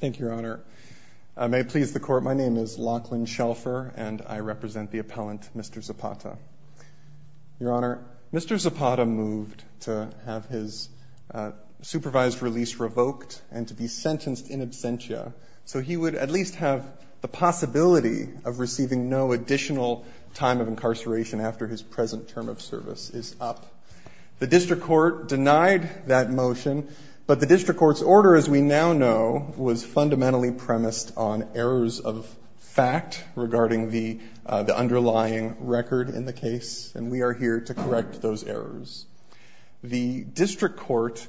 Thank you, Your Honor. May it please the Court, my name is Lachlan Shelfer, and I represent the appellant, Mr. Zapata. Your Honor, Mr. Zapata moved to have his supervised release revoked and to be sentenced in absentia, so he would at least have the possibility of receiving no additional time of incarceration after his present term of service is up. The district court denied that motion, but the district court's order, as we now know, was fundamentally premised on errors of fact regarding the underlying record in the case, and we are here to correct those errors. The district court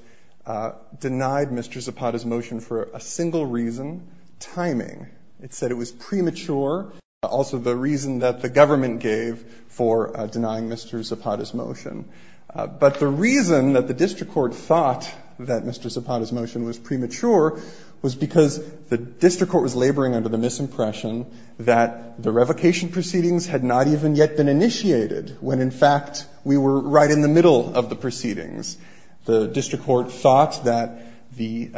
denied Mr. Zapata's motion for a single reason, timing. It said it was premature, also the reason that the government gave for denying Mr. Zapata's motion. But the reason that the district court thought that Mr. Zapata's motion was premature was because the district court was laboring under the misimpression that the revocation proceedings had not even yet been initiated when in fact we were right in the middle of the proceedings. The district court thought that the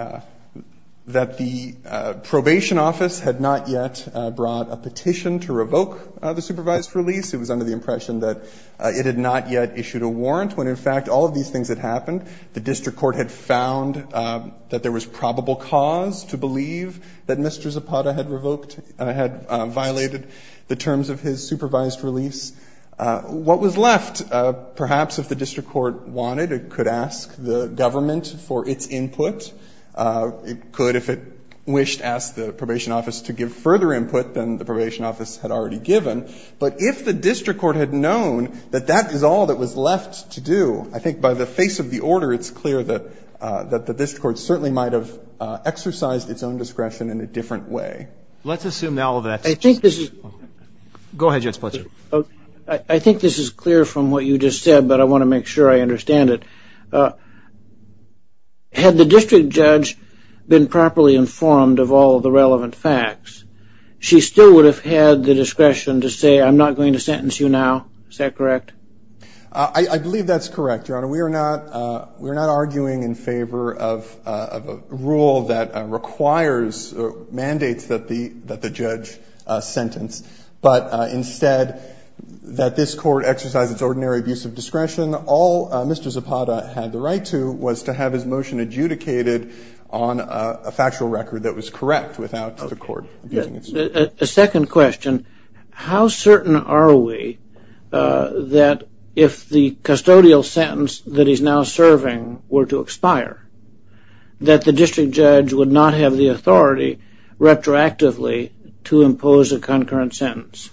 probation office had not yet brought a petition to revoke the supervised release. It was under the impression that it had not yet issued a warrant when in fact all of these things had happened. The district court had found that there was probable cause to believe that Mr. Zapata had violated the terms of his supervised release. What was left, perhaps if the district court wanted, it could ask the government for its input. It could, if it wished, ask the probation office to give further input than the probation office had already given. But if the district court had known that that is all that was left to do, I think by the face of the order, it's clear that the district court certainly might have exercised its own discretion in a different way. Let's assume now that- I think this is- Go ahead, Judge Blitzer. I think this is clear from what you just said, but I want to make sure I understand it. Had the district judge been properly informed of all of the relevant facts, she still would have had the discretion to say, I'm not going to sentence you now, is that correct? I believe that's correct, Your Honor. We are not arguing in favor of a rule that requires or mandates that the judge sentence, but instead that this court exercise its ordinary abuse of discretion. All Mr. Zapata had the right to was to have his motion adjudicated on a factual record that was correct without the court abusing its discretion. A second question. How certain are we that if the custodial sentence that he's now serving were to expire, that the district judge would not have the authority retroactively to impose a concurrent sentence?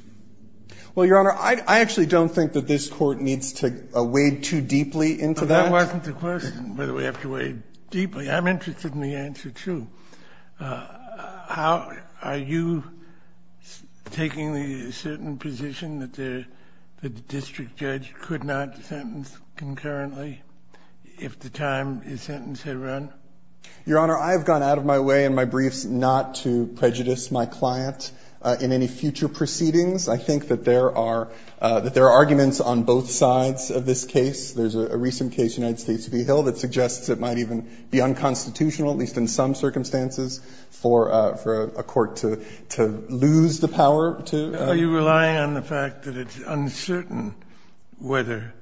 Well, Your Honor, I actually don't think that this court needs to wade too deeply into that. That wasn't the question, whether we have to wade deeply. I'm interested in the answer, too. How are you taking the certain position that the district judge could not sentence concurrently if the time his sentence had run? Your Honor, I have gone out of my way in my briefs not to prejudice my client in any future proceedings. I think that there are arguments on both sides of this case. There's a recent case, United States v. Hill, that suggests it might even be unconstitutional, at least in some circumstances, for a court to lose the power to. Are you relying on the fact that it's uncertain whether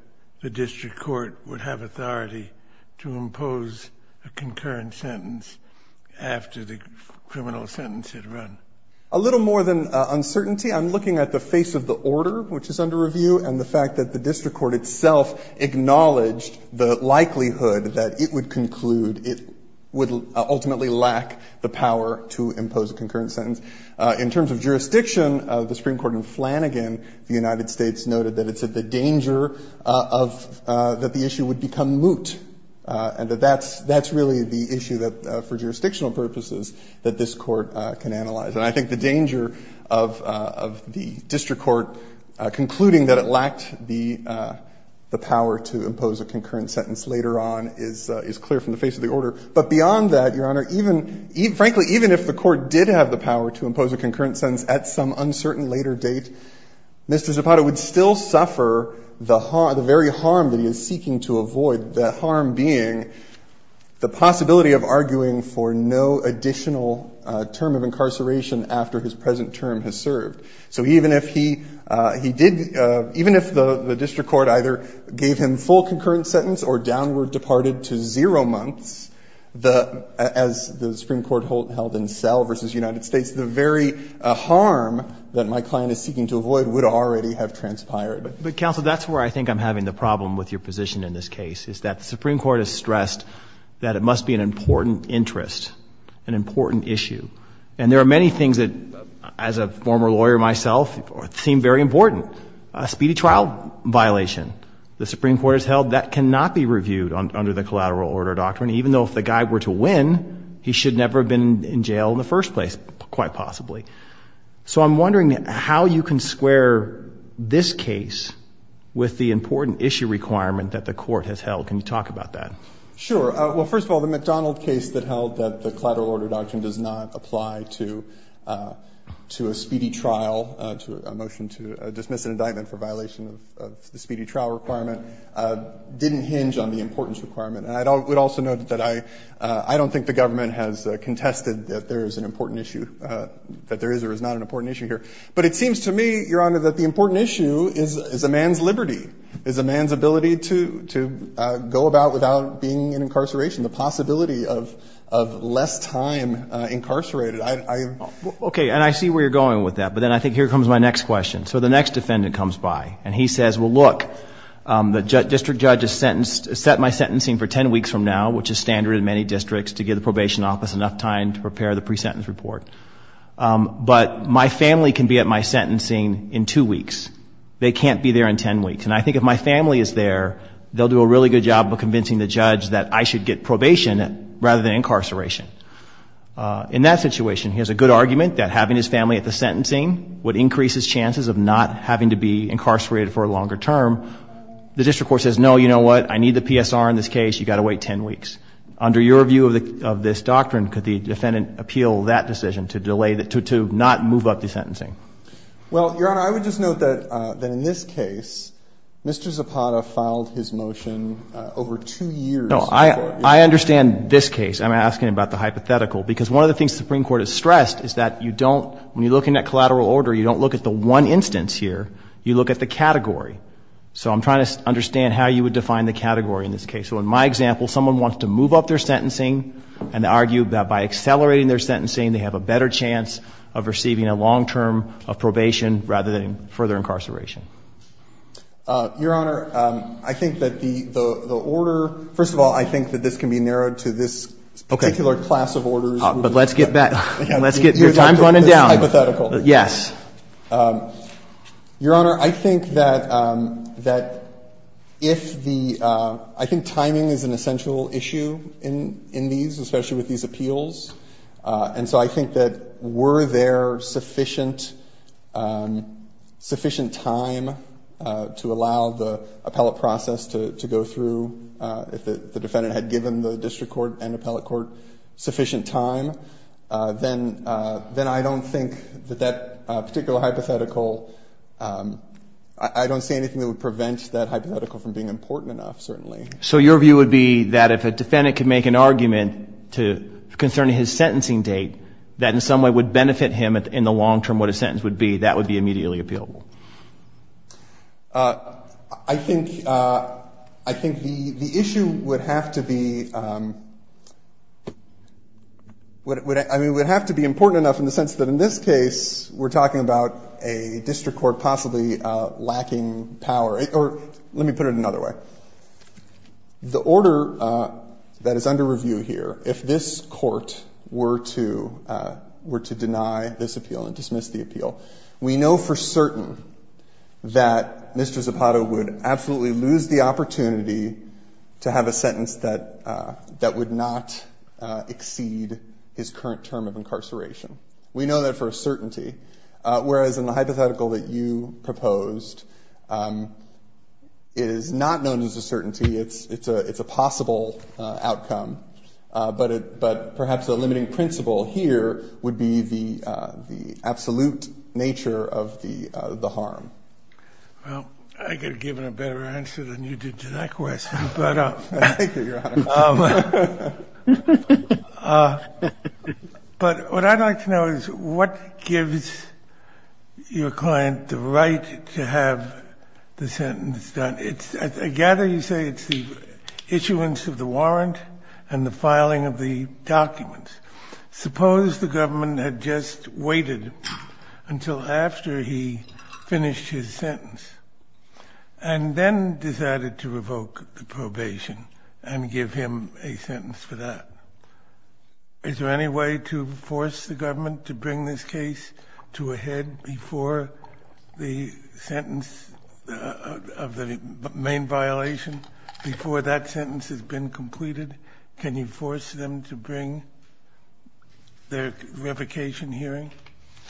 the district court would have authority to impose a concurrent sentence after the criminal sentence had run? A little more than uncertainty. I'm looking at the face of the order, which is under review, and the fact that the district court itself acknowledged the likelihood that it would conclude, it would ultimately lack the power to impose a concurrent sentence. In terms of jurisdiction of the Supreme Court in Flanagan, the United States noted that it's at the danger of that the issue would become moot, and that that's really the issue for jurisdictional purposes that this court can analyze. And I think the danger of the district court concluding that it lacked the power to impose a concurrent sentence later on is clear from the face of the order. But beyond that, Your Honor, even, frankly, even if the court did have the power to impose a concurrent sentence at some uncertain later date, Mr. Zapata would still suffer the very harm that he is seeking to avoid, the harm being the possibility of arguing for no additional term of incarceration after his present term has served. So even if he did, even if the district court either gave him full concurrent sentence or downward departed to zero months, as the Supreme Court held in Sell versus United States, the very harm that my client is seeking to avoid would already have transpired. But counsel, that's where I think I'm having the problem with your position in this case, is that the Supreme Court has stressed that it must be an important interest, an important issue. And there are many things that, as a former lawyer myself, seem very important. A speedy trial violation, the Supreme Court has held that cannot be reviewed under the collateral order doctrine, even though if the guy were to win, he should never have been in jail in the first place, quite possibly. So I'm wondering how you can square this case with the important issue requirement that the court has held. Can you talk about that? Sure, well, first of all, the McDonald case that held that the collateral order doctrine does not apply to a speedy trial, to a motion to dismiss an indictment for violation of the speedy trial requirement, didn't hinge on the importance requirement. And I would also note that I don't think the government has contested that there is an important issue, that there is or is not an important issue here. But it seems to me, Your Honor, that the important issue is a man's liberty, is a man's ability to go about without being in incarceration, the possibility of less time incarcerated. Okay, and I see where you're going with that, but then I think here comes my next question. So the next defendant comes by, and he says, well, look, the district judge has set my sentencing for 10 weeks from now, which is standard in many districts to give the probation office enough time to prepare the pre-sentence report. But my family can be at my sentencing in two weeks. They can't be there in 10 weeks. And I think if my family is there, they'll do a really good job of convincing the judge that I should get probation rather than incarceration. In that situation, he has a good argument that having his family at the sentencing would increase his chances of not having to be incarcerated for a longer term. The district court says, no, you know what? I need the PSR in this case. You gotta wait 10 weeks. Under your view of this doctrine, could the defendant appeal that decision to not move up the sentencing? Well, Your Honor, I would just note that in this case, Mr. Zapata filed his motion over two years before. I understand this case. I'm asking about the hypothetical, because one of the things the Supreme Court has stressed is that you don't, when you're looking at collateral order, you don't look at the one instance here. You look at the category. So I'm trying to understand how you would define the category in this case. So in my example, someone wants to move up their sentencing and argue that by accelerating their sentencing, they have a better chance of receiving a long-term of probation rather than further incarceration. Your Honor, I think that the order, first of all, I think that this can be narrowed to this particular class of orders. But let's get back, let's get your time running down. Hypothetical. Yes. Your Honor, I think that if the, I think timing is an essential issue in these, especially with these appeals. And so I think that were there sufficient time to allow the appellate process to go through if the defendant had given the district court and appellate court sufficient time, then I don't think that that particular hypothetical, I don't see anything that would prevent that hypothetical from being important enough, certainly. So your view would be that if a defendant could make an argument concerning his sentencing date, that in some way would benefit him in the long-term what a sentence would be, that would be immediately appealable. I think the issue would have to be I mean, it would have to be important enough in the sense that in this case, we're talking about a district court possibly lacking power, or let me put it another way. The order that is under review here, if this court were to deny this appeal and dismiss the appeal, we know for certain that Mr. Zapata would absolutely lose the opportunity to have a sentence that would not exceed his current term of incarceration. We know that for a certainty, whereas in the hypothetical that you proposed, it is not known as a certainty, it's a possible outcome, but perhaps the limiting principle here would be the absolute nature of the harm. Well, I could have given a better answer than you did to that question, but. Thank you, Your Honor. But what I'd like to know is what gives your client the right to have the sentence done? It's, I gather you say it's the issuance of the warrant and the filing of the documents. Suppose the government had just waited until after he finished his sentence and then decided to revoke the probation and give him a sentence for that. Is there any way to force the government to bring this case to a head before the sentence of the main violation, before that sentence has been completed? Can you force them to bring their revocation hearing?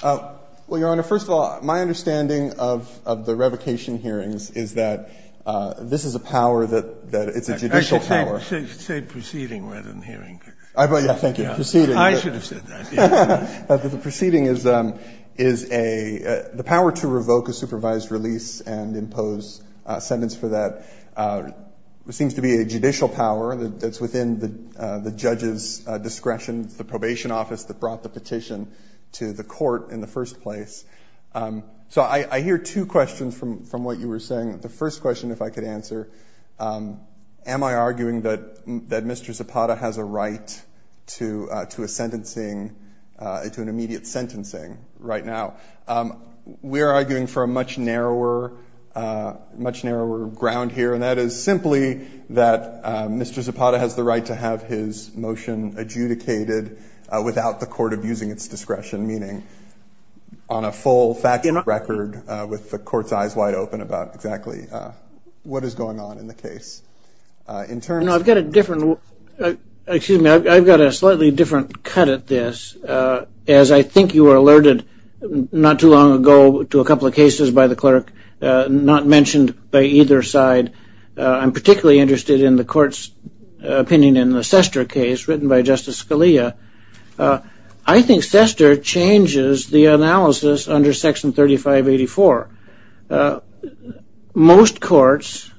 Well, Your Honor, first of all, my understanding of the revocation hearings is that this is a power that it's a judicial power. I should say proceeding rather than hearing. I, yeah, thank you. Proceeding. I should have said that. But the proceeding is a, the power to revoke a supervised release and impose a sentence for that that's within the judge's discretion, the probation office that brought the petition to the court in the first place. So I hear two questions from what you were saying. The first question, if I could answer, am I arguing that Mr. Zapata has a right to a sentencing, to an immediate sentencing right now? We're arguing for a much narrower ground here. And that is simply that Mr. Zapata has the right to have his motion adjudicated without the court abusing its discretion, meaning on a full factual record with the court's eyes wide open about exactly what is going on in the case. In terms of- No, I've got a different, excuse me, I've got a slightly different cut at this. As I think you were alerted not too long ago to a couple of cases by the clerk, not mentioned by either side. I'm particularly interested in the court's opinion in the Sester case written by Justice Scalia. I think Sester changes the analysis under section 3584. Most courts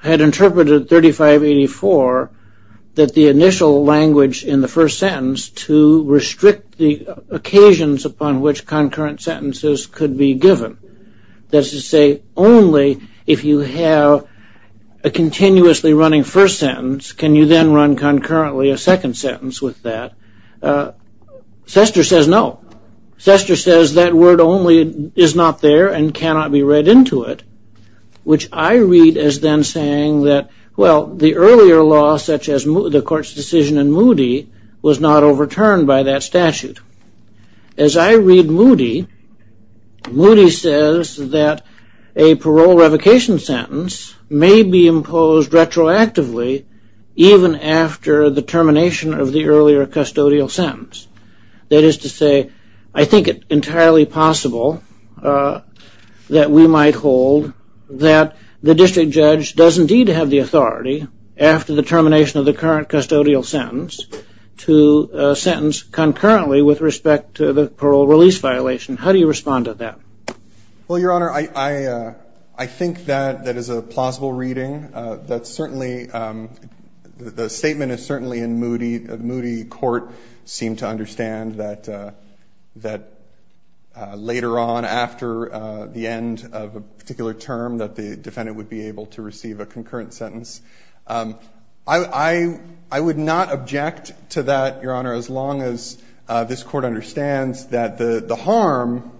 had interpreted 3584 that the initial language in the first sentence to restrict the occasions upon which concurrent sentences could be given. That is to say, only if you have a continuously running first sentence, can you then run concurrently a second sentence with that? Sester says no. Sester says that word only is not there and cannot be read into it, which I read as then saying that, well, the earlier law such as the court's decision in Moody was not overturned by that statute. As I read Moody, Moody says that a parole revocation sentence may be imposed retroactively even after the termination of the earlier custodial sentence. That is to say, I think it entirely possible that we might hold that the district judge does indeed have the authority after the termination of the current custodial sentence to sentence concurrently with respect to the parole release violation. How do you respond to that? Well, Your Honor, I think that that is a plausible reading. That's certainly, the statement is certainly in Moody. Moody Court seemed to understand that later on after the end of a particular term that the defendant would be able to receive a concurrent sentence. I would not object to that, Your Honor, as long as this court understands that the harm,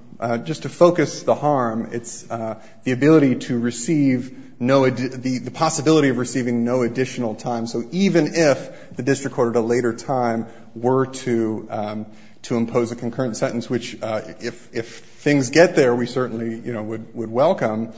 just to focus the harm, it's the ability to receive no, the possibility of receiving no additional time. So even if the district court at a later time were to impose a concurrent sentence, which if things get there, we certainly would welcome.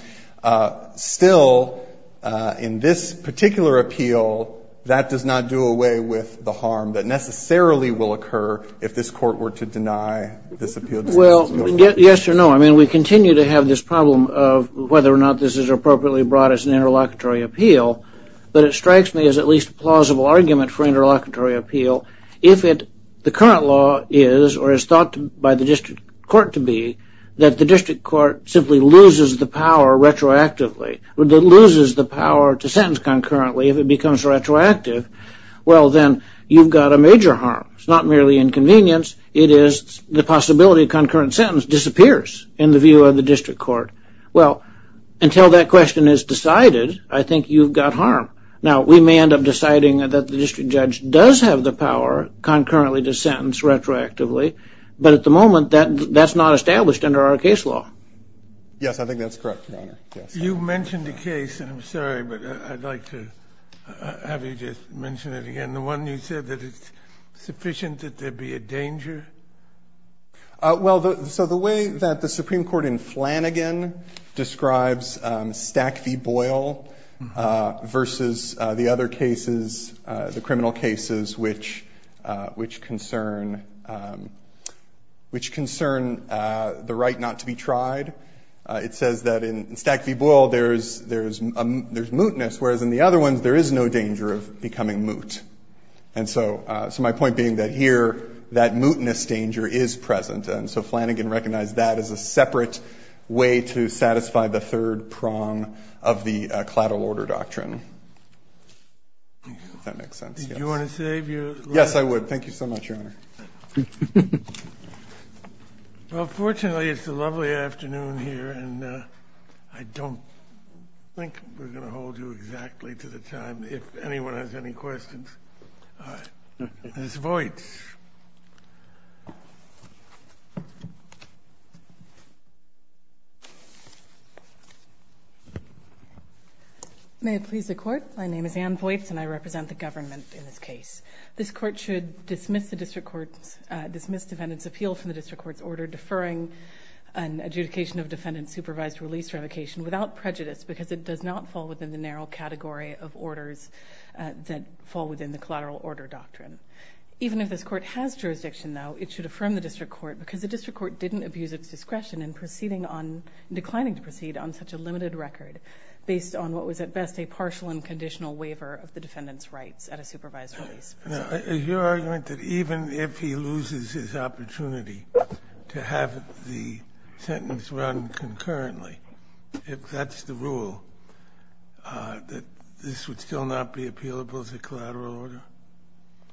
Still, in this particular appeal, that does not do away with the harm that necessarily will occur if this court were to deny this appeal. Well, yes or no. I mean, we continue to have this problem of whether or not this is appropriately brought as an interlocutory appeal, but it strikes me as at least a plausible argument for interlocutory appeal. If the current law is, or is thought by the district court to be, that the district court simply loses the power retroactively, loses the power to sentence concurrently if it becomes retroactive, well then, you've got a major harm. It's not merely inconvenience, it is the possibility of concurrent sentence disappears in the view of the district court. Well, until that question is decided, I think you've got harm. Now, we may end up deciding that the district judge does have the power concurrently to sentence retroactively, but at the moment, that's not established under our case law. Yes, I think that's correct, Your Honor. You mentioned a case, and I'm sorry, but I'd like to have you just mention it again. The one you said that it's sufficient that there'd be a danger? Well, so the way that the Supreme Court in Flanagan describes Stack v. Boyle versus the other cases, the criminal cases which concern the right not to be tried, it says that in Stack v. Boyle, there's mootness, whereas in the other ones, there is no danger of becoming moot. And so my point being that here, that mootness danger is present, and so Flanagan recognized that as a separate way to satisfy the third prong of the Claddell Order Doctrine. If that makes sense, yes. Did you want to say if you? Yes, I would. Thank you so much, Your Honor. Well, fortunately, it's a lovely afternoon here, and I don't think we're gonna hold you exactly to the time. If anyone has any questions. Ms. Voights. May it please the Court? My name is Anne Voights, and I represent the government in this case. This Court should dismiss the District Court's, dismiss defendant's appeal from the District Court's order deferring an adjudication of defendant's supervised release revocation without prejudice because it does not fall within the narrow category of orders that fall within the Claddell Order Doctrine. Even if this Court has jurisdiction, though, it should affirm the District Court because the District Court didn't abuse its discretion in proceeding on, declining to proceed on such a limited record based on what was at best a partial and conditional waiver of the defendant's rights at a supervised release. Now, is your argument that even if he loses his opportunity to have the sentence run concurrently, if that's the rule, that this would still not be appealable as a Claddell Order?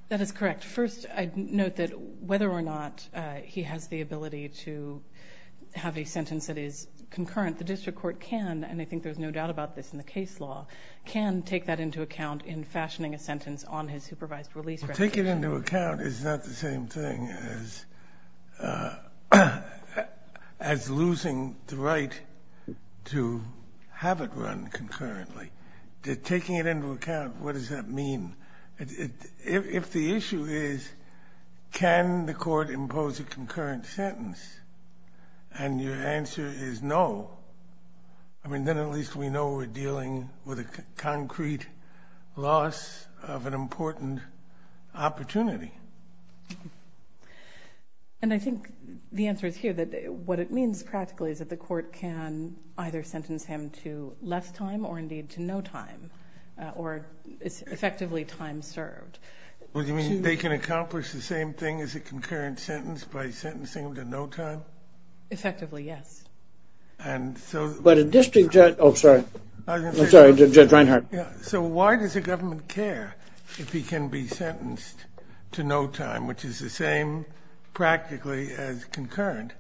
That is correct. First, I'd note that whether or not he has the ability to have a sentence that is concurrent, the District Court can, and I think there's no doubt about this in the case law, can take that into account in fashioning a sentence on his supervised release revocation. Well, take it into account is not the same thing as losing the right to have it run concurrently. Taking it into account, what does that mean? If the issue is can the Court impose a concurrent sentence and your answer is no, I mean, then at least we know we're dealing with a concrete loss of an important opportunity. And I think the answer is here, that what it means practically is that the Court can either sentence him to less time or indeed to no time, or effectively time served. What do you mean? They can accomplish the same thing as a concurrent sentence by sentencing him to no time? Effectively, yes. And so- But a district judge, oh, sorry. I'm sorry, Judge Reinhart. So why does the government care if he can be sentenced to no time, which is the same practically as concurrent?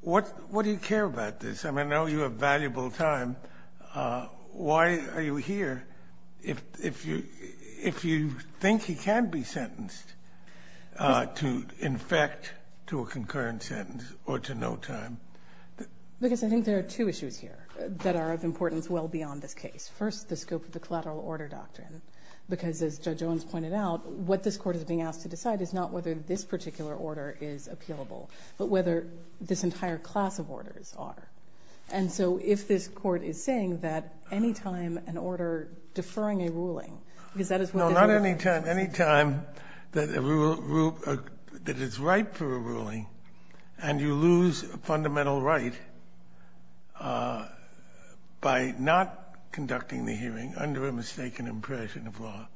What do you care about this? I mean, I know you have valuable time. Why are you here if you think he can be sentenced to infect to a concurrent sentence or to no time? Because I think there are two issues here that are of importance well beyond this case. First, the scope of the collateral order doctrine, because as Judge Owens pointed out, what this Court is being asked to decide is not whether this particular order is appealable, but whether this entire class of orders are. And so if this Court is saying that any time an order deferring a ruling, because that is what- No, not any time. Any time that it's right for a ruling and you lose a fundamental right by not conducting the hearing under a mistaken impression of law,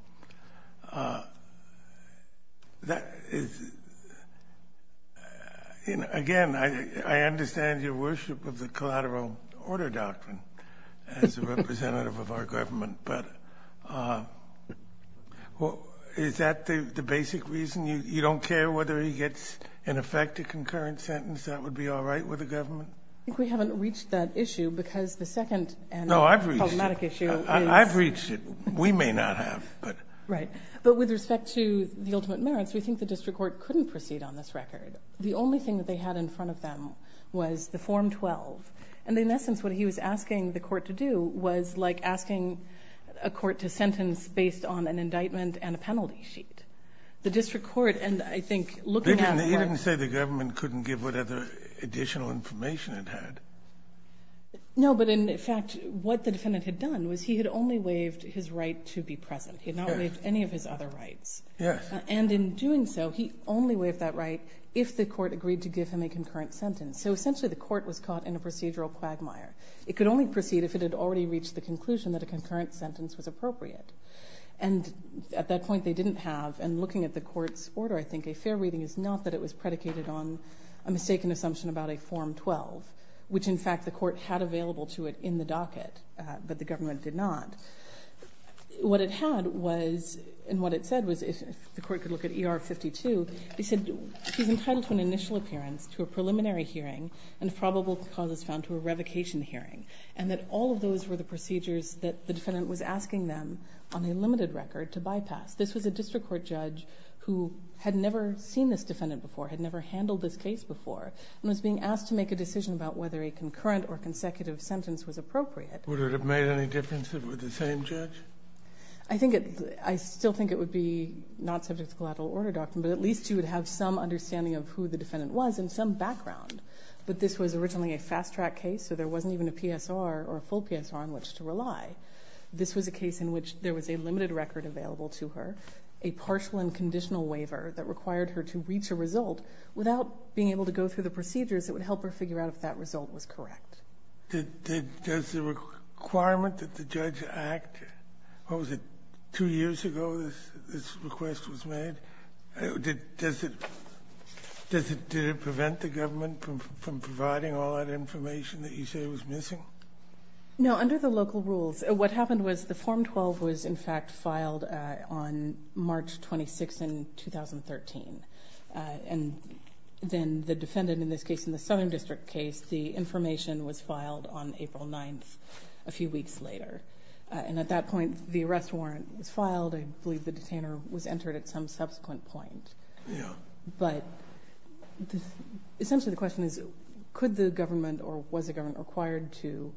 again, I understand your worship of the collateral order doctrine as a representative of our government, but is that the basic reason? You don't care whether he gets, in effect, a concurrent sentence? That would be all right with the government? I think we haven't reached that issue because the second problematic issue is- I've reached it. We may not have, but- Right, but with respect to the ultimate merits, we think the District Court couldn't proceed on this record. The only thing that they had in front of them was the Form 12. And in essence, what he was asking the Court to do was like asking a Court to sentence based on an indictment and a penalty sheet. The District Court, and I think looking at- He didn't say the government couldn't give what other additional information it had. No, but in fact, what the defendant had done was he had only waived his right to be present. He had not waived any of his other rights. And in doing so, he only waived that right if the Court agreed to give him a concurrent sentence. So essentially, the Court was caught in a procedural quagmire. It could only proceed if it had already reached the conclusion that a concurrent sentence was appropriate. And at that point, they didn't have, and looking at the Court's order, I think a fair reading is not that it was predicated on a mistaken assumption about a Form 12, which in fact the Court had available to it in the docket, but the government did not. What it had was, and what it said was, if the Court could look at ER 52, they said he's entitled to an initial appearance, to a preliminary hearing, and probable cause is found to a revocation hearing, and that all of those were the procedures that the defendant was asking them on a limited record to bypass. This was a district court judge who had never seen this defendant before, had never handled this case before, and was being asked to make a decision about whether a concurrent or consecutive sentence was appropriate. Would it have made any difference if it were the same judge? I think it, I still think it would be not subject to collateral order doctrine, but at least you would have some understanding of who the defendant was and some background. But this was originally a fast-track case, so there wasn't even a PSR or a full PSR on which to rely. This was a case in which there was a limited record available to her, a partial and conditional waiver that required her to reach a result without being able to go through the procedures that would help her figure out if that result was correct. Did, does the requirement that the judge act, what was it, two years ago this request was made, did, does it, does it, did it prevent the government from providing all that information that you say was missing? No, under the local rules, what happened was the Form 12 was in fact filed on March 26th in 2013. And then the defendant in this case, in the Southern District case, the information was filed on April 9th, a few weeks later. And at that point, the arrest warrant was filed. I believe the detainer was entered at some subsequent point. Yeah. But essentially the question is, could the government or was the government acquired to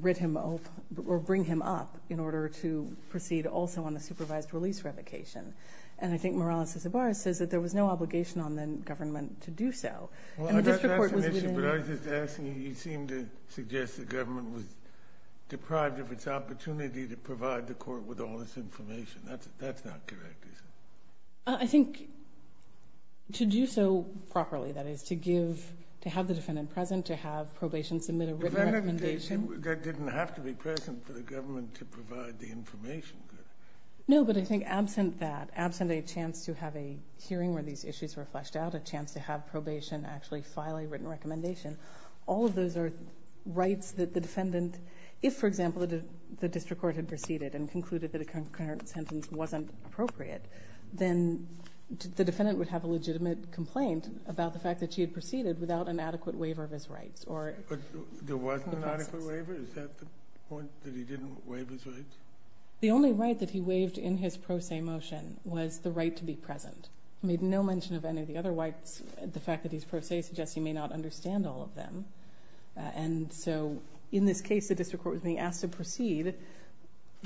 writ him, or bring him up in order to proceed also on the supervised release revocation? And I think Morales-Cisabarra says that there was no obligation on the government to do so. And the district court was within. Well, I got that submission, but I was just asking, you seem to suggest the government was deprived of its opportunity to provide the court with all this information. That's not correct, is it? I think to do so properly, that is to give, to have the defendant present, to have probation submit a written recommendation. That didn't have to be present for the government to provide the information. No, but I think absent that, absent a chance to have a hearing where these issues were fleshed out, a chance to have probation actually file a written recommendation. All of those are rights that the defendant, if for example, the district court had proceeded and concluded that a concurrent sentence wasn't appropriate, then the defendant would have a legitimate complaint about the fact that she had proceeded without an adequate waiver of his rights, or. There wasn't an adequate waiver? Is that the point, that he didn't waive his rights? The only right that he waived in his pro se motion was the right to be present. Made no mention of any of the other rights. The fact that he's pro se suggests he may not understand all of them. And so in this case, the district court was being asked to proceed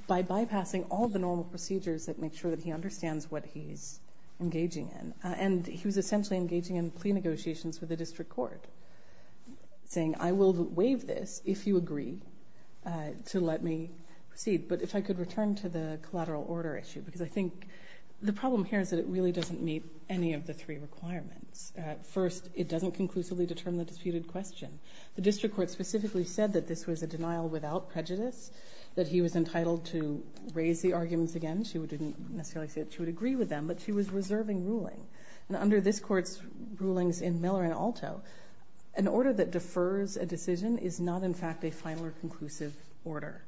by bypassing all the normal procedures that make sure that he understands what he's engaging in. And he was essentially engaging in plea negotiations with the district court, saying I will waive this if you agree to let me proceed. But if I could return to the collateral order issue, because I think the problem here is that it really doesn't meet any of the three requirements. First, it doesn't conclusively determine the disputed question. The district court specifically said that this was a denial without prejudice, that he was entitled to raise the arguments again. She didn't necessarily say that she would agree with them, but she was reserving ruling. And under this court's rulings in Miller and Alto, an order that defers a decision is not in fact a final or conclusive order.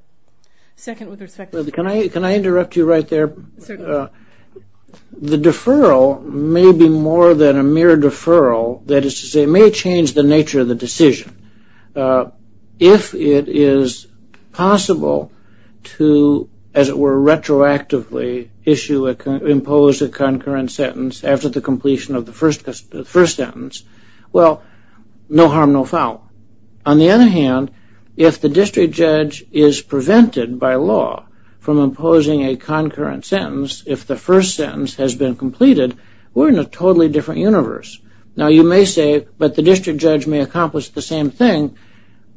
Second, with respect to- Can I interrupt you right there? Certainly. The deferral may be more than a mere deferral. That is to say, it may change the nature of the decision. If it is possible to, as it were, retroactively issue, impose a concurrent sentence after the completion of the first sentence, well, no harm, no foul. On the other hand, if the district judge is prevented by law from imposing a concurrent sentence if the first sentence has been completed, we're in a totally different universe. Now, you may say, but the district judge may accomplish the same thing,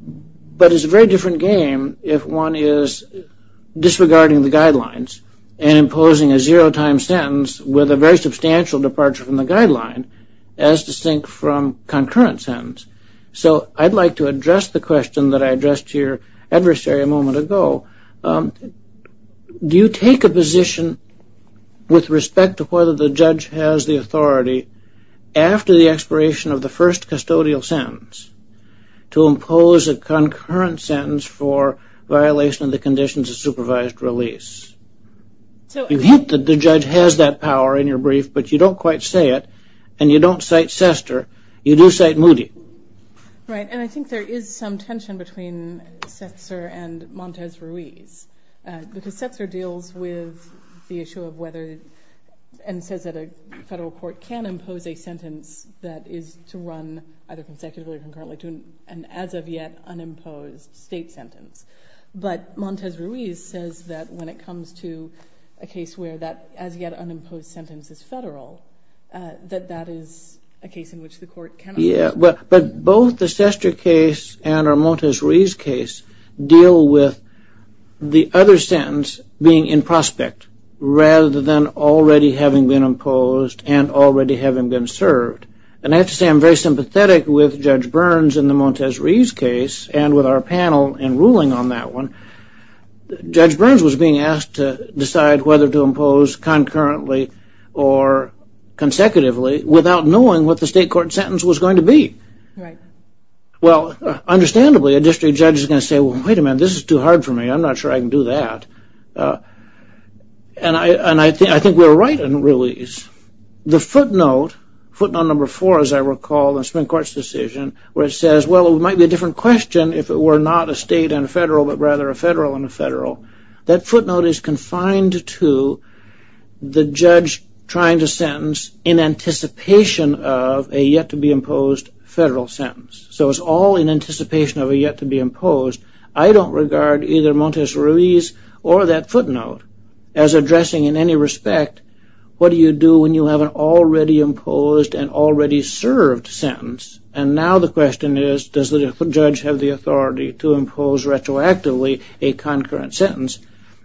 but it's a very different game if one is disregarding the guidelines and imposing a zero-time sentence with a very substantial departure from the guideline as distinct from concurrent sentence. So I'd like to address the question that I addressed to your adversary a moment ago. Do you take a position with respect to whether the judge has the authority after the expiration of the first custodial sentence to impose a concurrent sentence for violation of the conditions of supervised release? You hint that the judge has that power in your brief, but you don't quite say it, and you don't cite Sester. You do cite Moody. Right, and I think there is some tension between Sester and Montez Ruiz, because Sester deals with the issue of whether, and says that a federal court can impose a sentence that is to run either consecutively or concurrently to an as-of-yet unimposed state sentence. But Montez Ruiz says that when it comes to a case where that as-yet unimposed sentence is federal, that that is a case in which the court cannot. Yeah, but both the Sester case and our Montez Ruiz case deal with the other sentence being in prospect rather than already having been imposed and already having been served. And I have to say, I'm very sympathetic with Judge Burns in the Montez Ruiz case, and with our panel in ruling on that one. Judge Burns was being asked to decide whether to impose concurrently or consecutively without knowing what the state court sentence was going to be. Right. Well, understandably, a district judge is going to say, well, wait a minute, this is too hard for me. I'm not sure I can do that. And I think we're right in Ruiz. The footnote, footnote number four, as I recall, in the Supreme Court's decision, where it says, well, it might be a different question if it were not a state and a federal, but rather a federal and a federal, that footnote is confined to the judge trying to sentence in anticipation of a yet-to-be-imposed federal sentence. So it's all in anticipation of a yet-to-be-imposed. I don't regard either Montez Ruiz or that footnote as addressing in any respect, what do you do when you have an already-imposed and already-served sentence? And now the question is, does the judge have the authority to impose retroactively a concurrent sentence?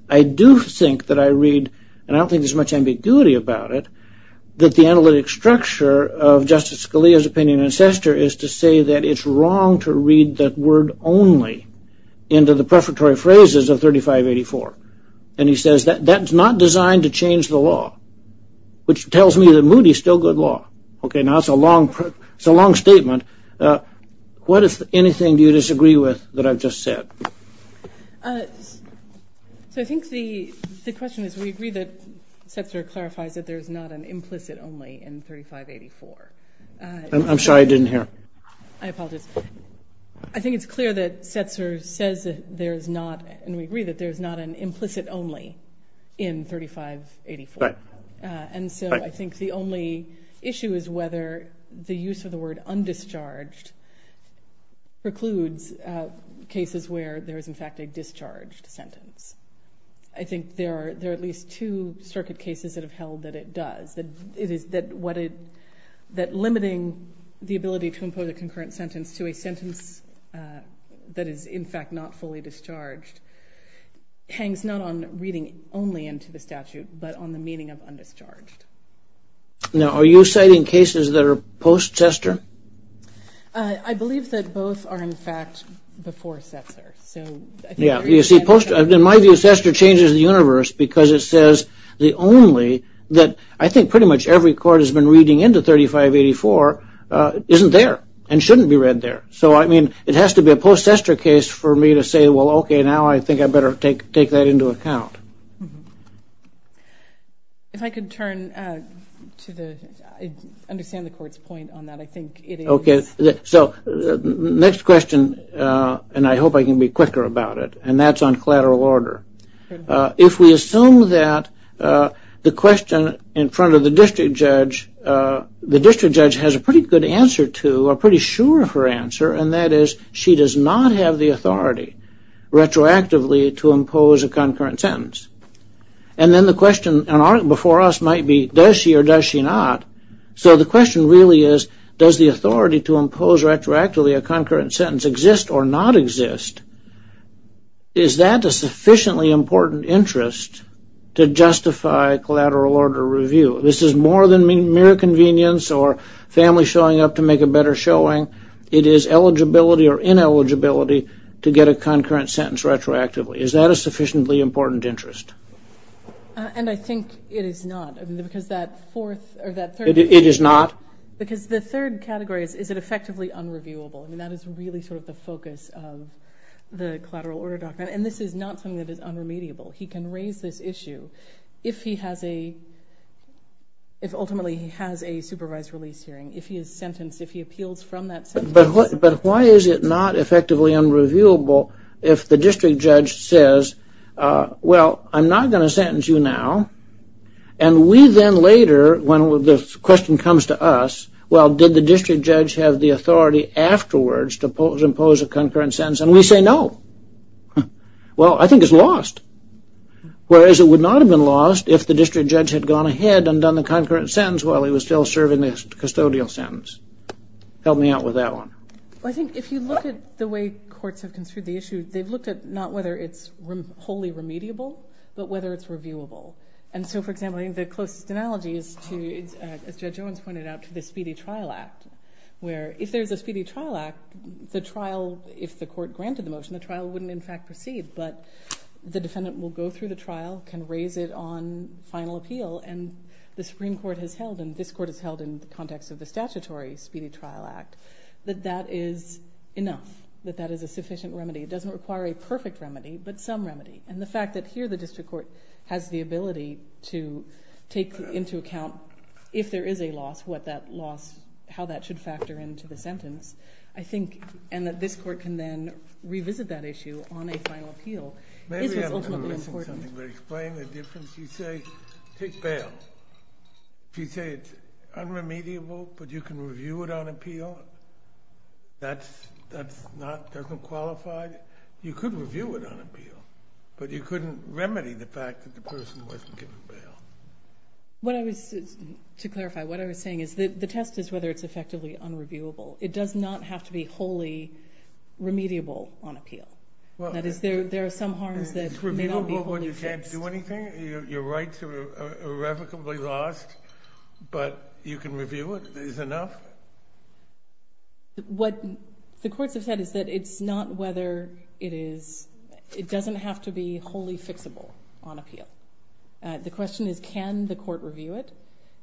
I do think that I read, and I don't think there's much ambiguity about it, that the analytic structure of Justice Scalia's opinion in Sester is to say that it's wrong to read that word only into the prefatory phrases of 3584. And he says that that's not designed to change the law, which tells me that Moody's still good law. Okay, now it's a long statement. What, if anything, do you disagree with that I've just said? So I think the question is, we agree that Sester clarifies that there's not an implicit only in 3584. I'm sorry, I didn't hear. I apologize. I think it's clear that Sester says that there's not, and we agree that there's not an implicit only in 3584. And so I think the only issue is whether the use of the word undischarged precludes cases where there is, in fact, a discharged sentence. I think there are at least two circuit cases that have held that it does, that limiting the ability to impose a concurrent sentence to a sentence that is, in fact, not fully discharged hangs not on reading only into the statute, but on the meaning of undischarged. Now, are you citing cases that are post-Sester? I believe that both are, in fact, before Sester, so. Yeah, you see, in my view, Sester changes the universe because it says the only, that I think pretty much every court has been reading into 3584, isn't there and shouldn't be read there. So, I mean, it has to be a post-Sester case for me to say, well, okay, now I think I better take that into account. If I could turn to the, understand the court's point on that, I think it is. Okay, so next question, and I hope I can be quicker about it, and that's on collateral order. If we assume that the question in front of the district judge the district judge has a pretty good answer to, or pretty sure of her answer, and that is she does not have the authority retroactively to impose a concurrent sentence. And then the question before us might be, does she or does she not? So the question really is, does the authority to impose retroactively a concurrent sentence exist or not exist? Is that a sufficiently important interest to justify collateral order review? This is more than mere convenience or family showing up to make a better showing. It is eligibility or ineligibility to get a concurrent sentence retroactively. Is that a sufficiently important interest? And I think it is not because that fourth, or that third- It is not? Because the third category is, is it effectively unreviewable? I mean, that is really sort of the focus of the collateral order document. And this is not something that is unremediable. He can raise this issue if he has a, if ultimately he has a supervised release hearing, if he is sentenced, if he appeals from that sentence. But why is it not effectively unreviewable if the district judge says, well, I'm not gonna sentence you now. And we then later, when the question comes to us, well, did the district judge have the authority afterwards to impose a concurrent sentence? And we say, no. Well, I think it's lost. Whereas it would not have been lost if the district judge had gone ahead and done the concurrent sentence while he was still serving the custodial sentence. Help me out with that one. Well, I think if you look at the way courts have construed the issue, they've looked at not whether it's wholly remediable, but whether it's reviewable. And so, for example, I think the closest analogy is to, as Judge Owens pointed out, to the Speedy Trial Act, where if there's a Speedy Trial Act, the trial, if the court granted the motion, the trial wouldn't in fact proceed, but the defendant will go through the trial, can raise it on final appeal, and the Supreme Court has held, and this court has held in the context of the statutory Speedy Trial Act, that that is enough, that that is a sufficient remedy. It doesn't require a perfect remedy, but some remedy. And the fact that here the district court has the ability to take into account if there is a loss, what that loss, how that should factor into the sentence, I think, and that this court can then revisit that issue on a final appeal, is what's ultimately important. Maybe I'm missing something, but explain the difference. You say, take bail. If you say it's unremediable, but you can review it on appeal, that's not, doesn't qualify. You could review it on appeal, but you couldn't remedy the fact that the person wasn't given bail. What I was, to clarify, what I was saying is that the test is whether it's effectively unreviewable. It does not have to be wholly remediable on appeal. That is, there are some harms that may not be fully fixed. Is it reviewable when you can't do anything? Your rights are irrevocably lost, but you can review it. Is it enough? What the courts have said is that it's not whether it is, it doesn't have to be wholly fixable on appeal. The question is, can the court review it?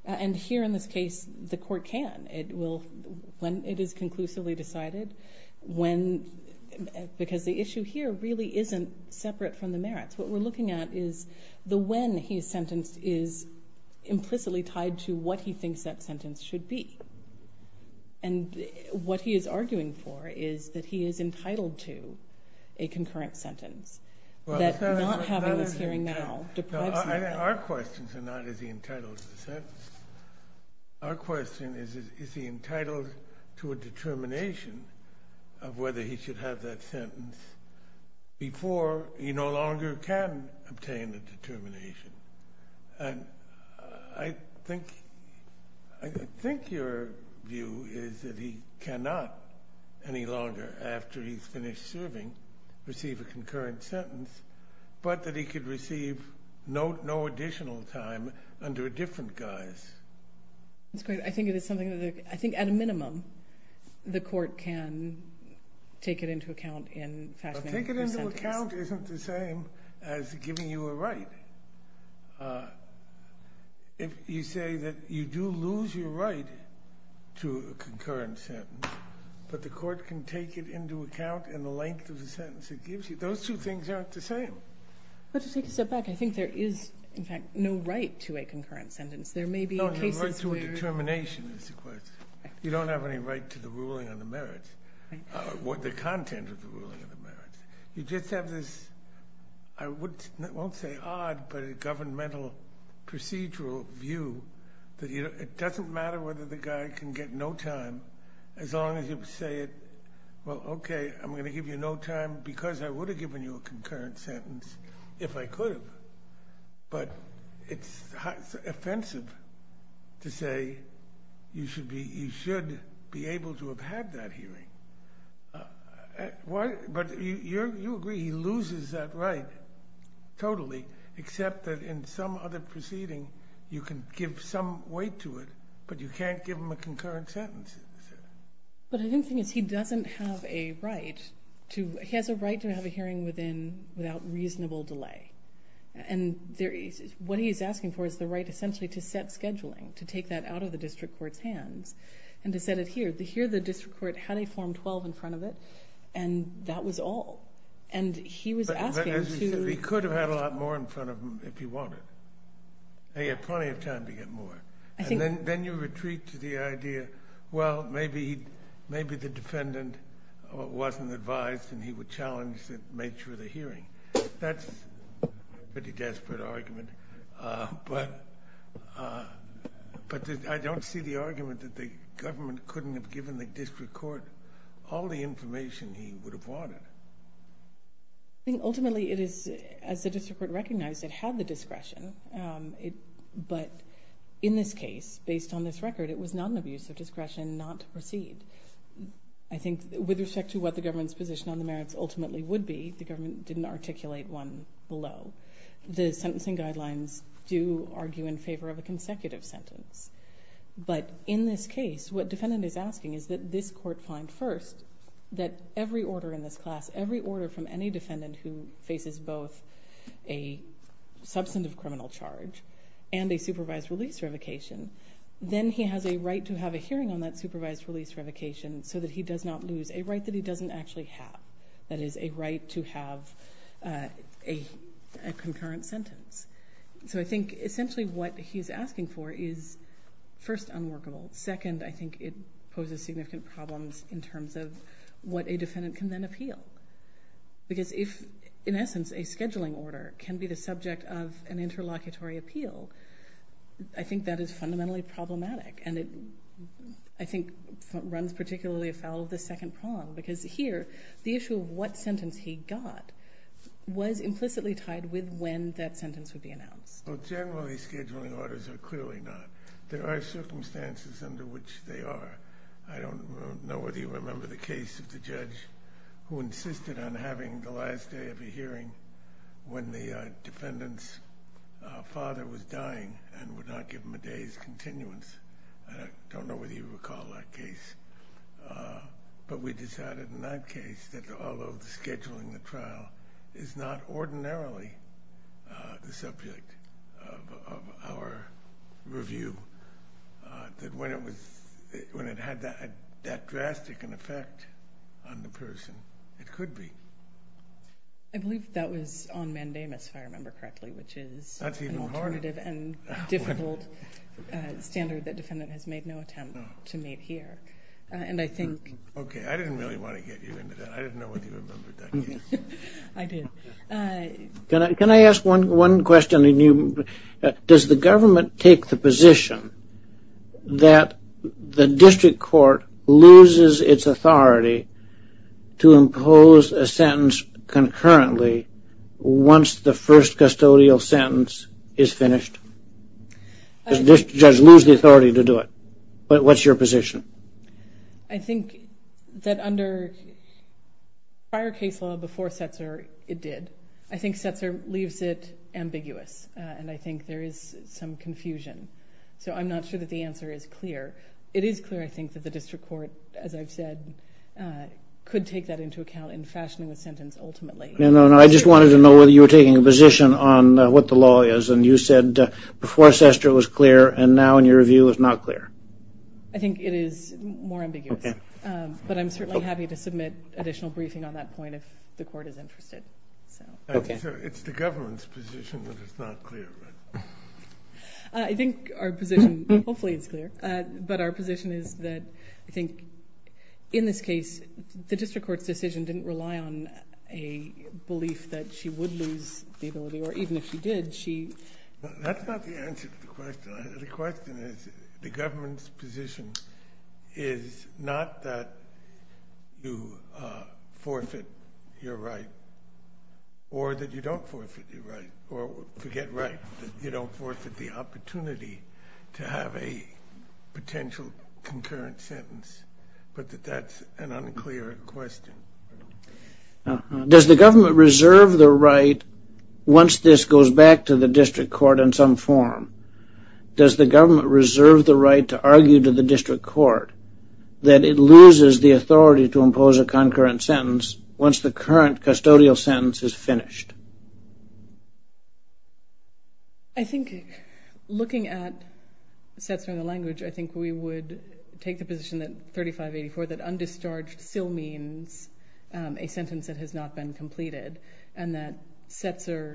And here in this case, the court can. It will, when it is conclusively decided, when, because the issue here really isn't separate from the merits. What we're looking at is the when he is sentenced is implicitly tied to what he thinks that sentence should be. And what he is arguing for is that he is entitled to a concurrent sentence. That not having this hearing now deprives him of that. Our questions are not, is he entitled to the sentence? Our question is, is he entitled to a determination of whether he should have that sentence before he no longer can obtain the determination? And I think, I think your view is that he cannot any longer after he's finished serving receive a concurrent sentence, but that he could receive no additional time under a different guise. That's great. I think it is something that, I think at a minimum, the court can take it into account in fashioning the sentence. But take it into account isn't the same as giving you a right. If you say that you do lose your right to a concurrent sentence, but the court can take it into account in the length of the sentence it gives you, those two things aren't the same. But to take a step back, I think there is, in fact, no right to a concurrent sentence. There may be cases where- No, the right to a determination is the question. You don't have any right to the ruling on the merits, or the content of the ruling on the merits. You just have this, I won't say odd, but a governmental procedural view that it doesn't matter whether the guy can get no time, as long as you say it, well, okay, I'm gonna give you no time because I would have given you a concurrent sentence if I could have. But it's offensive to say you should be able to have had that hearing. But you agree he loses that right totally, except that in some other proceeding you can give some weight to it, but you can't give him a concurrent sentence. But I think the thing is, he doesn't have a right to, he has a right to have a hearing without reasonable delay. And what he's asking for is the right essentially to set scheduling, to take that out of the district court's hands, and to set it here. Here the district court had a Form 12 in front of it, and that was all. And he was asking to- But as we said, he could have had a lot more in front of him if he wanted. He had plenty of time to get more. And then you retreat to the idea, well, maybe the defendant wasn't advised and he would challenge the nature of the hearing. That's a pretty desperate argument. But I don't see the argument that the government couldn't have given the district court all the information he would have wanted. I think ultimately it is, as the district court recognized, it had the discretion. But in this case, based on this record, it was not an abuse of discretion not to proceed. I think with respect to what the government's position on the merits ultimately would be, the government didn't articulate one below. The sentencing guidelines do argue in favor of a consecutive sentence. But in this case, what defendant is asking is that this court find first that every order in this class, every order from any defendant who faces both a substantive criminal charge and a supervised release revocation, then he has a right to have a hearing on that supervised release revocation so that he does not lose a right that he doesn't actually have. That is a right to have a concurrent sentence. So I think essentially what he's asking for is first, unworkable. Second, I think it poses significant problems in terms of what a defendant can then appeal. Because if, in essence, a scheduling order can be the subject of an interlocutory appeal, I think that is fundamentally problematic. And it, I think, runs particularly afoul of the second prong. Because here, the issue of what sentence he got was implicitly tied with when that sentence would be announced. Well, generally, scheduling orders are clearly not. There are circumstances under which they are. I don't know whether you remember the case of the judge who insisted on having the last day of a hearing when the defendant's father was dying and would not give him a day's continuance. I don't know whether you recall that case. But we decided in that case that although the scheduling of the trial is not ordinarily the subject of our review, that when it had that drastic an effect on the person, it could be. I believe that was on mandamus, if I remember correctly, which is an alternative and difficult standard that defendant has made no attempt to meet here. And I think... Okay, I didn't really want to get you into that. I didn't know what you remembered that case. I did. Can I ask one question? Does the government take the position that the district court loses its authority to impose a sentence concurrently once the first custodial sentence is finished? Does the judge lose the authority to do it? What's your position? I think that under prior case law before Setzer, it did. I think Setzer leaves it ambiguous. And I think there is some confusion. So I'm not sure that the answer is clear. It is clear, I think, that the district court, as I've said, could take that into account in fashioning the sentence ultimately. No, no, no. I just wanted to know whether you were taking a position on what the law is. And you said before Setzer it was clear and now in your review it's not clear. I think it is more ambiguous. But I'm certainly happy to submit additional briefing on that point if the court is interested. It's the government's position that it's not clear. I think our position, hopefully it's clear, but our position is that I think in this case, the district court's decision didn't rely on a belief that she would lose the ability, or even if she did, she. That's not the answer to the question. The question is, the government's position is not that you forfeit your right or that you don't forfeit your right, or forget right. You don't forfeit the opportunity to have a potential concurrent sentence. But that that's an unclear question. Does the government reserve the right once this goes back to the district court in some form, does the government reserve the right to argue to the district court that it loses the authority to impose a concurrent sentence once the current custodial sentence is finished? I think looking at Setzer in the language, I think we would take the position that 3584, that undischarged still means a sentence that has not been completed. And that Setzer,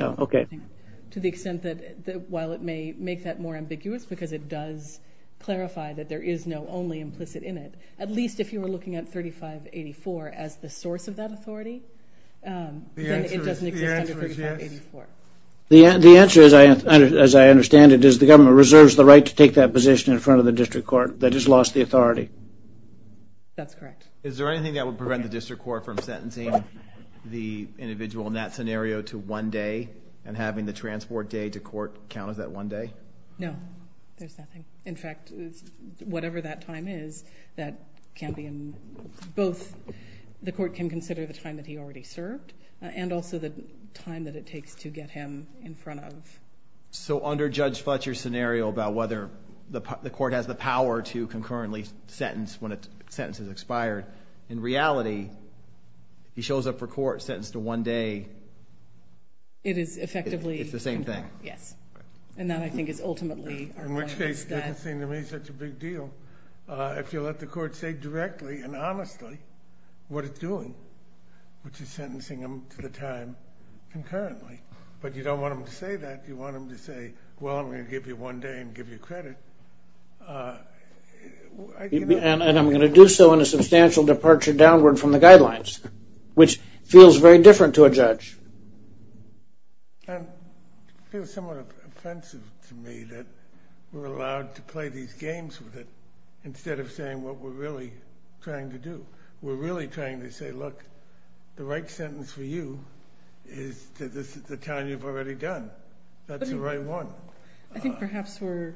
to the extent that, while it may make that more ambiguous, because it does clarify that there is no only implicit in it, at least if you were looking at 3584 as the source of that authority, then it doesn't exist under 3584. The answer, as I understand it, is the government reserves the right to take that position in front of the district court that has lost the authority. That's correct. Is there anything that would prevent the district court from sentencing the individual in that scenario to one day and having the transport day to court count as that one day? No, there's nothing. In fact, whatever that time is, that can be in both, the court can consider the time that he already served and also the time that it takes to get him in front of. So under Judge Fletcher's scenario about whether the court has the power to concurrently sentence when a sentence is expired, in reality, he shows up for court sentenced to one day. It is effectively... It's the same thing. Yes, and that I think is ultimately... In which case, it doesn't seem to me such a big deal. If you let the court say directly and honestly what it's doing, which is sentencing him for the time concurrently, but you don't want him to say that, you want him to say, well, I'm gonna give you one day and give you credit. And I'm gonna do so in a substantial departure downward from the guidelines, which feels very different to a judge. And it feels somewhat offensive to me that we're allowed to play these games with it instead of saying what we're really trying to do. We're really trying to say, look, the right sentence for you is that this is the time you've already done. That's the right one. I think perhaps we're...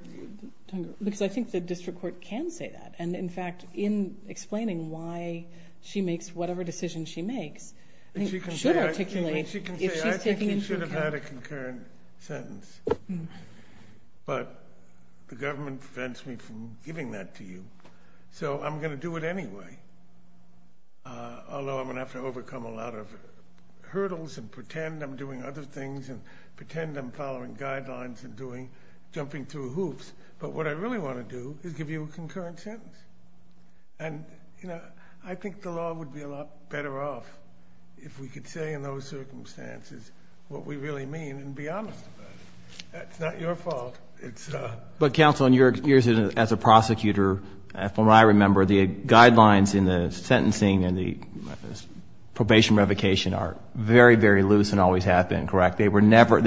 Because I think the district court can say that. And in fact, in explaining why she makes whatever decision she makes, I think she should articulate if she's taking into account. I think you should have had a concurrent sentence. But the government prevents me from giving that to you. So I'm gonna do it anyway. Although I'm gonna have to overcome a lot of hurdles and pretend I'm doing other things and pretend I'm following guidelines and jumping through hoops. But what I really wanna do is give you a concurrent sentence. And I think the law would be a lot better off if we could say in those circumstances what we really mean and be honest about it. That's not your fault. But counsel, in your years as a prosecutor, from what I remember, the guidelines in the sentencing and the probation revocation are very, very loose and always have been, correct? They were never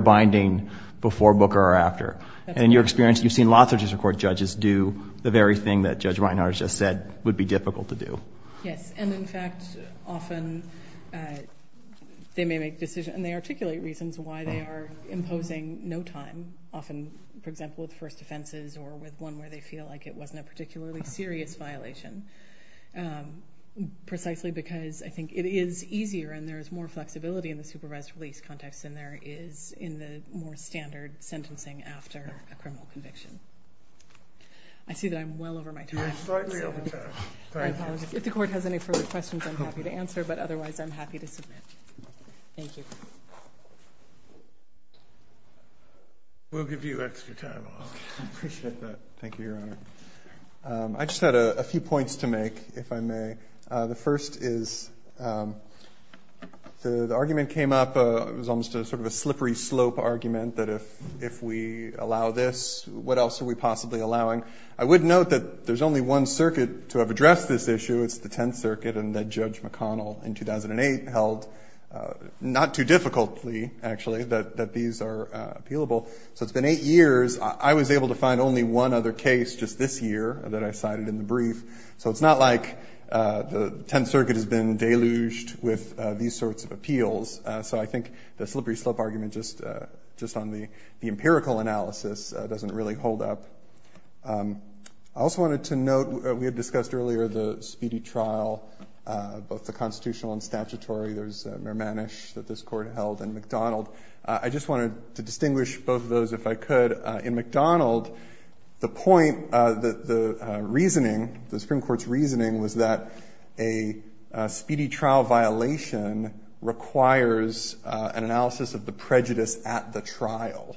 binding before, book, or after. And in your experience, you've seen lots of judicial court judges do the very thing that Judge Reinhardt just said would be difficult to do. Yes, and in fact, often they may make decisions and they articulate reasons why they are imposing no time. Often, for example, with first offenses or with one where they feel like it wasn't a particularly serious violation. Precisely because I think it is easier and there is more flexibility in the supervised release context than there is in the more standard sentencing after a criminal conviction. I see that I'm well over my time. You're slightly over time. I apologize. If the court has any further questions, I'm happy to answer, but otherwise I'm happy to submit. Thank you. We'll give you extra time, I appreciate that. Thank you, Your Honor. I just had a few points to make, if I may. The first is the argument came up, it was almost a sort of a slippery slope argument that if we allow this, what else are we possibly allowing? I would note that there's only one circuit to have addressed this issue, it's the Tenth Circuit and that Judge McConnell in 2008 held, not too difficultly actually, that these are appealable. So it's been eight years. I was able to find only one other case just this year that I cited in the brief. with these sorts of appeals. So I think the slippery slope argument just on the empirical analysis doesn't really hold up. I also wanted to note, we had discussed earlier the speedy trial, both the constitutional and statutory. There's Mermanish that this court held and McDonald. I just wanted to distinguish both of those if I could. In McDonald, the point, the reasoning, the Supreme Court's reasoning was that a speedy trial violation requires an analysis of the prejudice at the trial.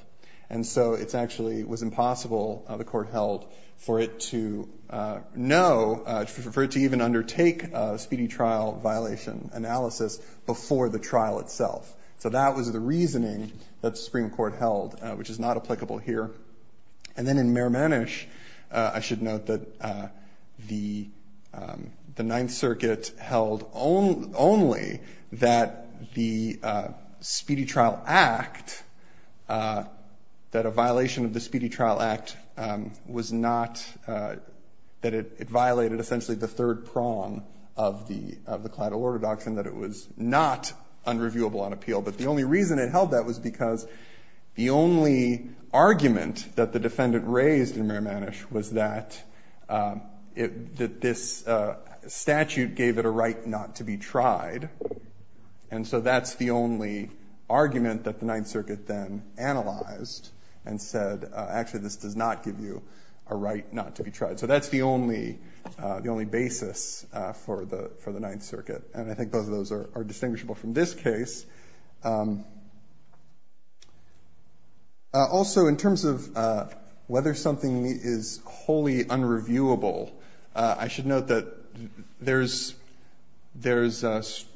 And so it's actually, it was impossible, the court held, for it to know, for it to even undertake a speedy trial violation analysis before the trial itself. So that was the reasoning that the Supreme Court held, which is not applicable here. And then in Mermanish, I should note that the Ninth Circuit held only that the speedy trial act, that a violation of the speedy trial act was not, that it violated essentially the third prong of the collateral orthodoxy and that it was not unreviewable on appeal. But the only reason it held that was because the only argument that the defendant raised in Mermanish was that this statute gave it a right not to be tried. And so that's the only argument that the Ninth Circuit then analyzed and said, actually, this does not give you a right not to be tried. So that's the only basis for the Ninth Circuit. And I think both of those are distinguishable from this case. Also, in terms of whether something is wholly unreviewable, I should note that there's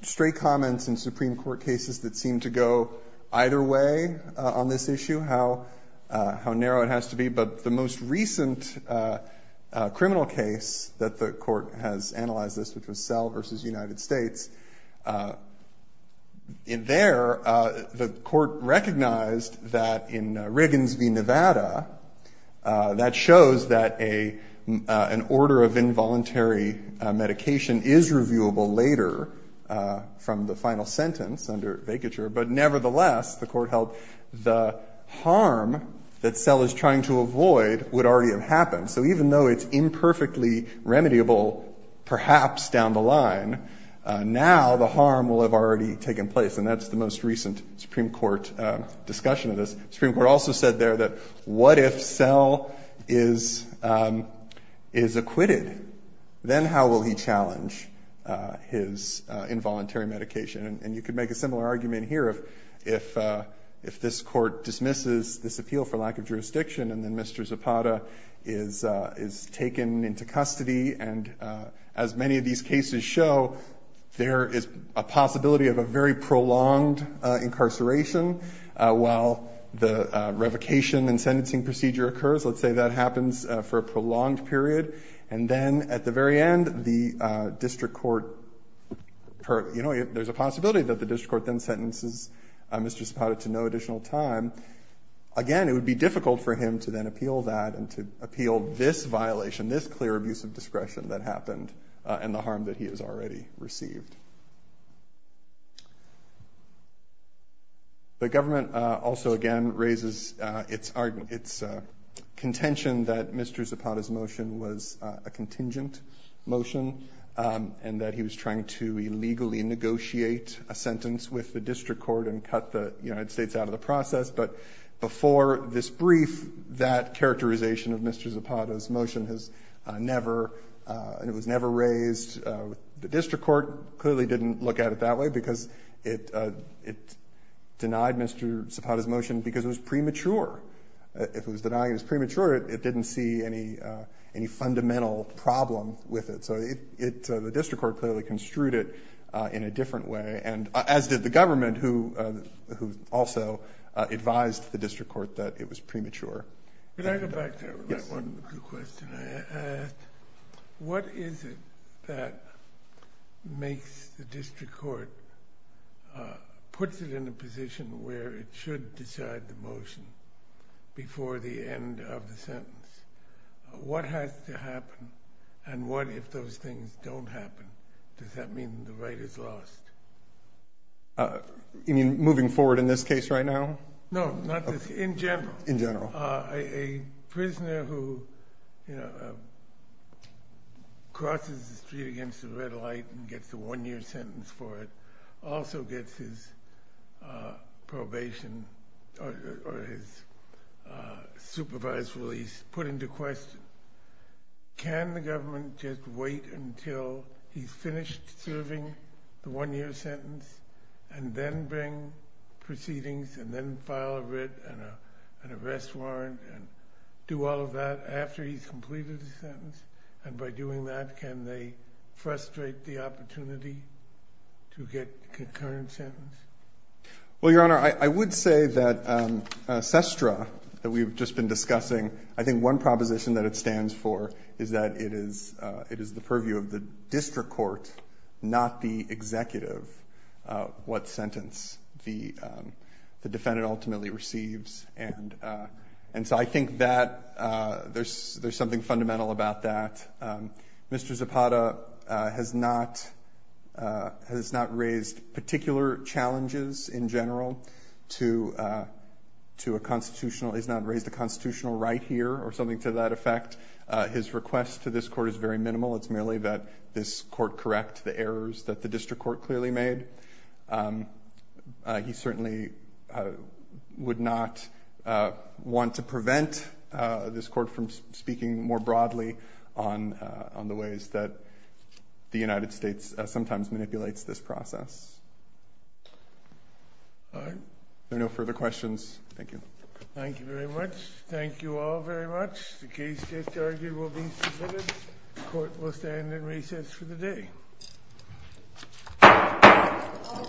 stray comments in Supreme Court cases that seem to go either way on this issue, how narrow it has to be. But the most recent criminal case that the court has analyzed this, which was Selle versus United States, in there, the court recognized that in Riggins v. Nevada, that shows that an order of involuntary medication is reviewable later from the final sentence under vacature, but nevertheless, the court held the harm that Selle is trying to avoid would already have happened. So even though it's imperfectly remediable, perhaps down the line, now the harm will have already taken place. And that's the most recent Supreme Court discussion of this. Supreme Court also said there that, what if Selle is acquitted? Then how will he challenge his involuntary medication? And you could make a similar argument here of if this court dismisses this appeal for lack of jurisdiction, and then Mr. Zapata is taken into custody and as many of these cases show, there is a possibility of a very prolonged incarceration while the revocation and sentencing procedure occurs. Let's say that happens for a prolonged period. And then at the very end, the district court, there's a possibility that the district court then sentences Mr. Zapata to no additional time. Again, it would be difficult for him to then appeal that and to appeal this violation, and this clear abuse of discretion that happened and the harm that he has already received. The government also again raises its contention that Mr. Zapata's motion was a contingent motion and that he was trying to illegally negotiate a sentence with the district court and cut the United States out of the process. But before this brief, that characterization of Mr. Zapata's motion and it was never raised, the district court clearly didn't look at it that way because it denied Mr. Zapata's motion because it was premature. If it was denying it was premature, it didn't see any fundamental problem with it. So the district court clearly construed it in a different way, and as did the government who also advised the district court that it was premature. Can I go back to that one quick question I asked? What is it that makes the district court, puts it in a position where it should decide the motion before the end of the sentence? What has to happen? And what if those things don't happen? Does that mean the right is lost? You mean moving forward in this case right now? No, not this, in general. A prisoner who crosses the street against the red light and gets the one year sentence for it also gets his probation or his supervised release put into question. Can the government just wait until he's finished serving the one year sentence and then bring proceedings and then file a writ and arrest warrant and do all of that after he's completed the sentence? And by doing that, can they frustrate the opportunity to get concurrent sentence? Well, your honor, I would say that SESTRA that we've just been discussing, I think one proposition that it stands for is that it is the purview of the district court, not the executive, what sentence the defendant ultimately receives. And so I think that there's something fundamental about that. Mr. Zapata has not raised particular challenges in general to a constitutional, he's not raised a constitutional right here or something to that effect. His request to this court is very minimal. It's merely that this court correct the errors that the district court clearly made. He certainly would not want to prevent this court from speaking more broadly on the ways that the United States sometimes manipulates this process. There are no further questions. Thank you. Thank you very much. Thank you all very much. The case just argued will be submitted. Court will stand in recess for the day.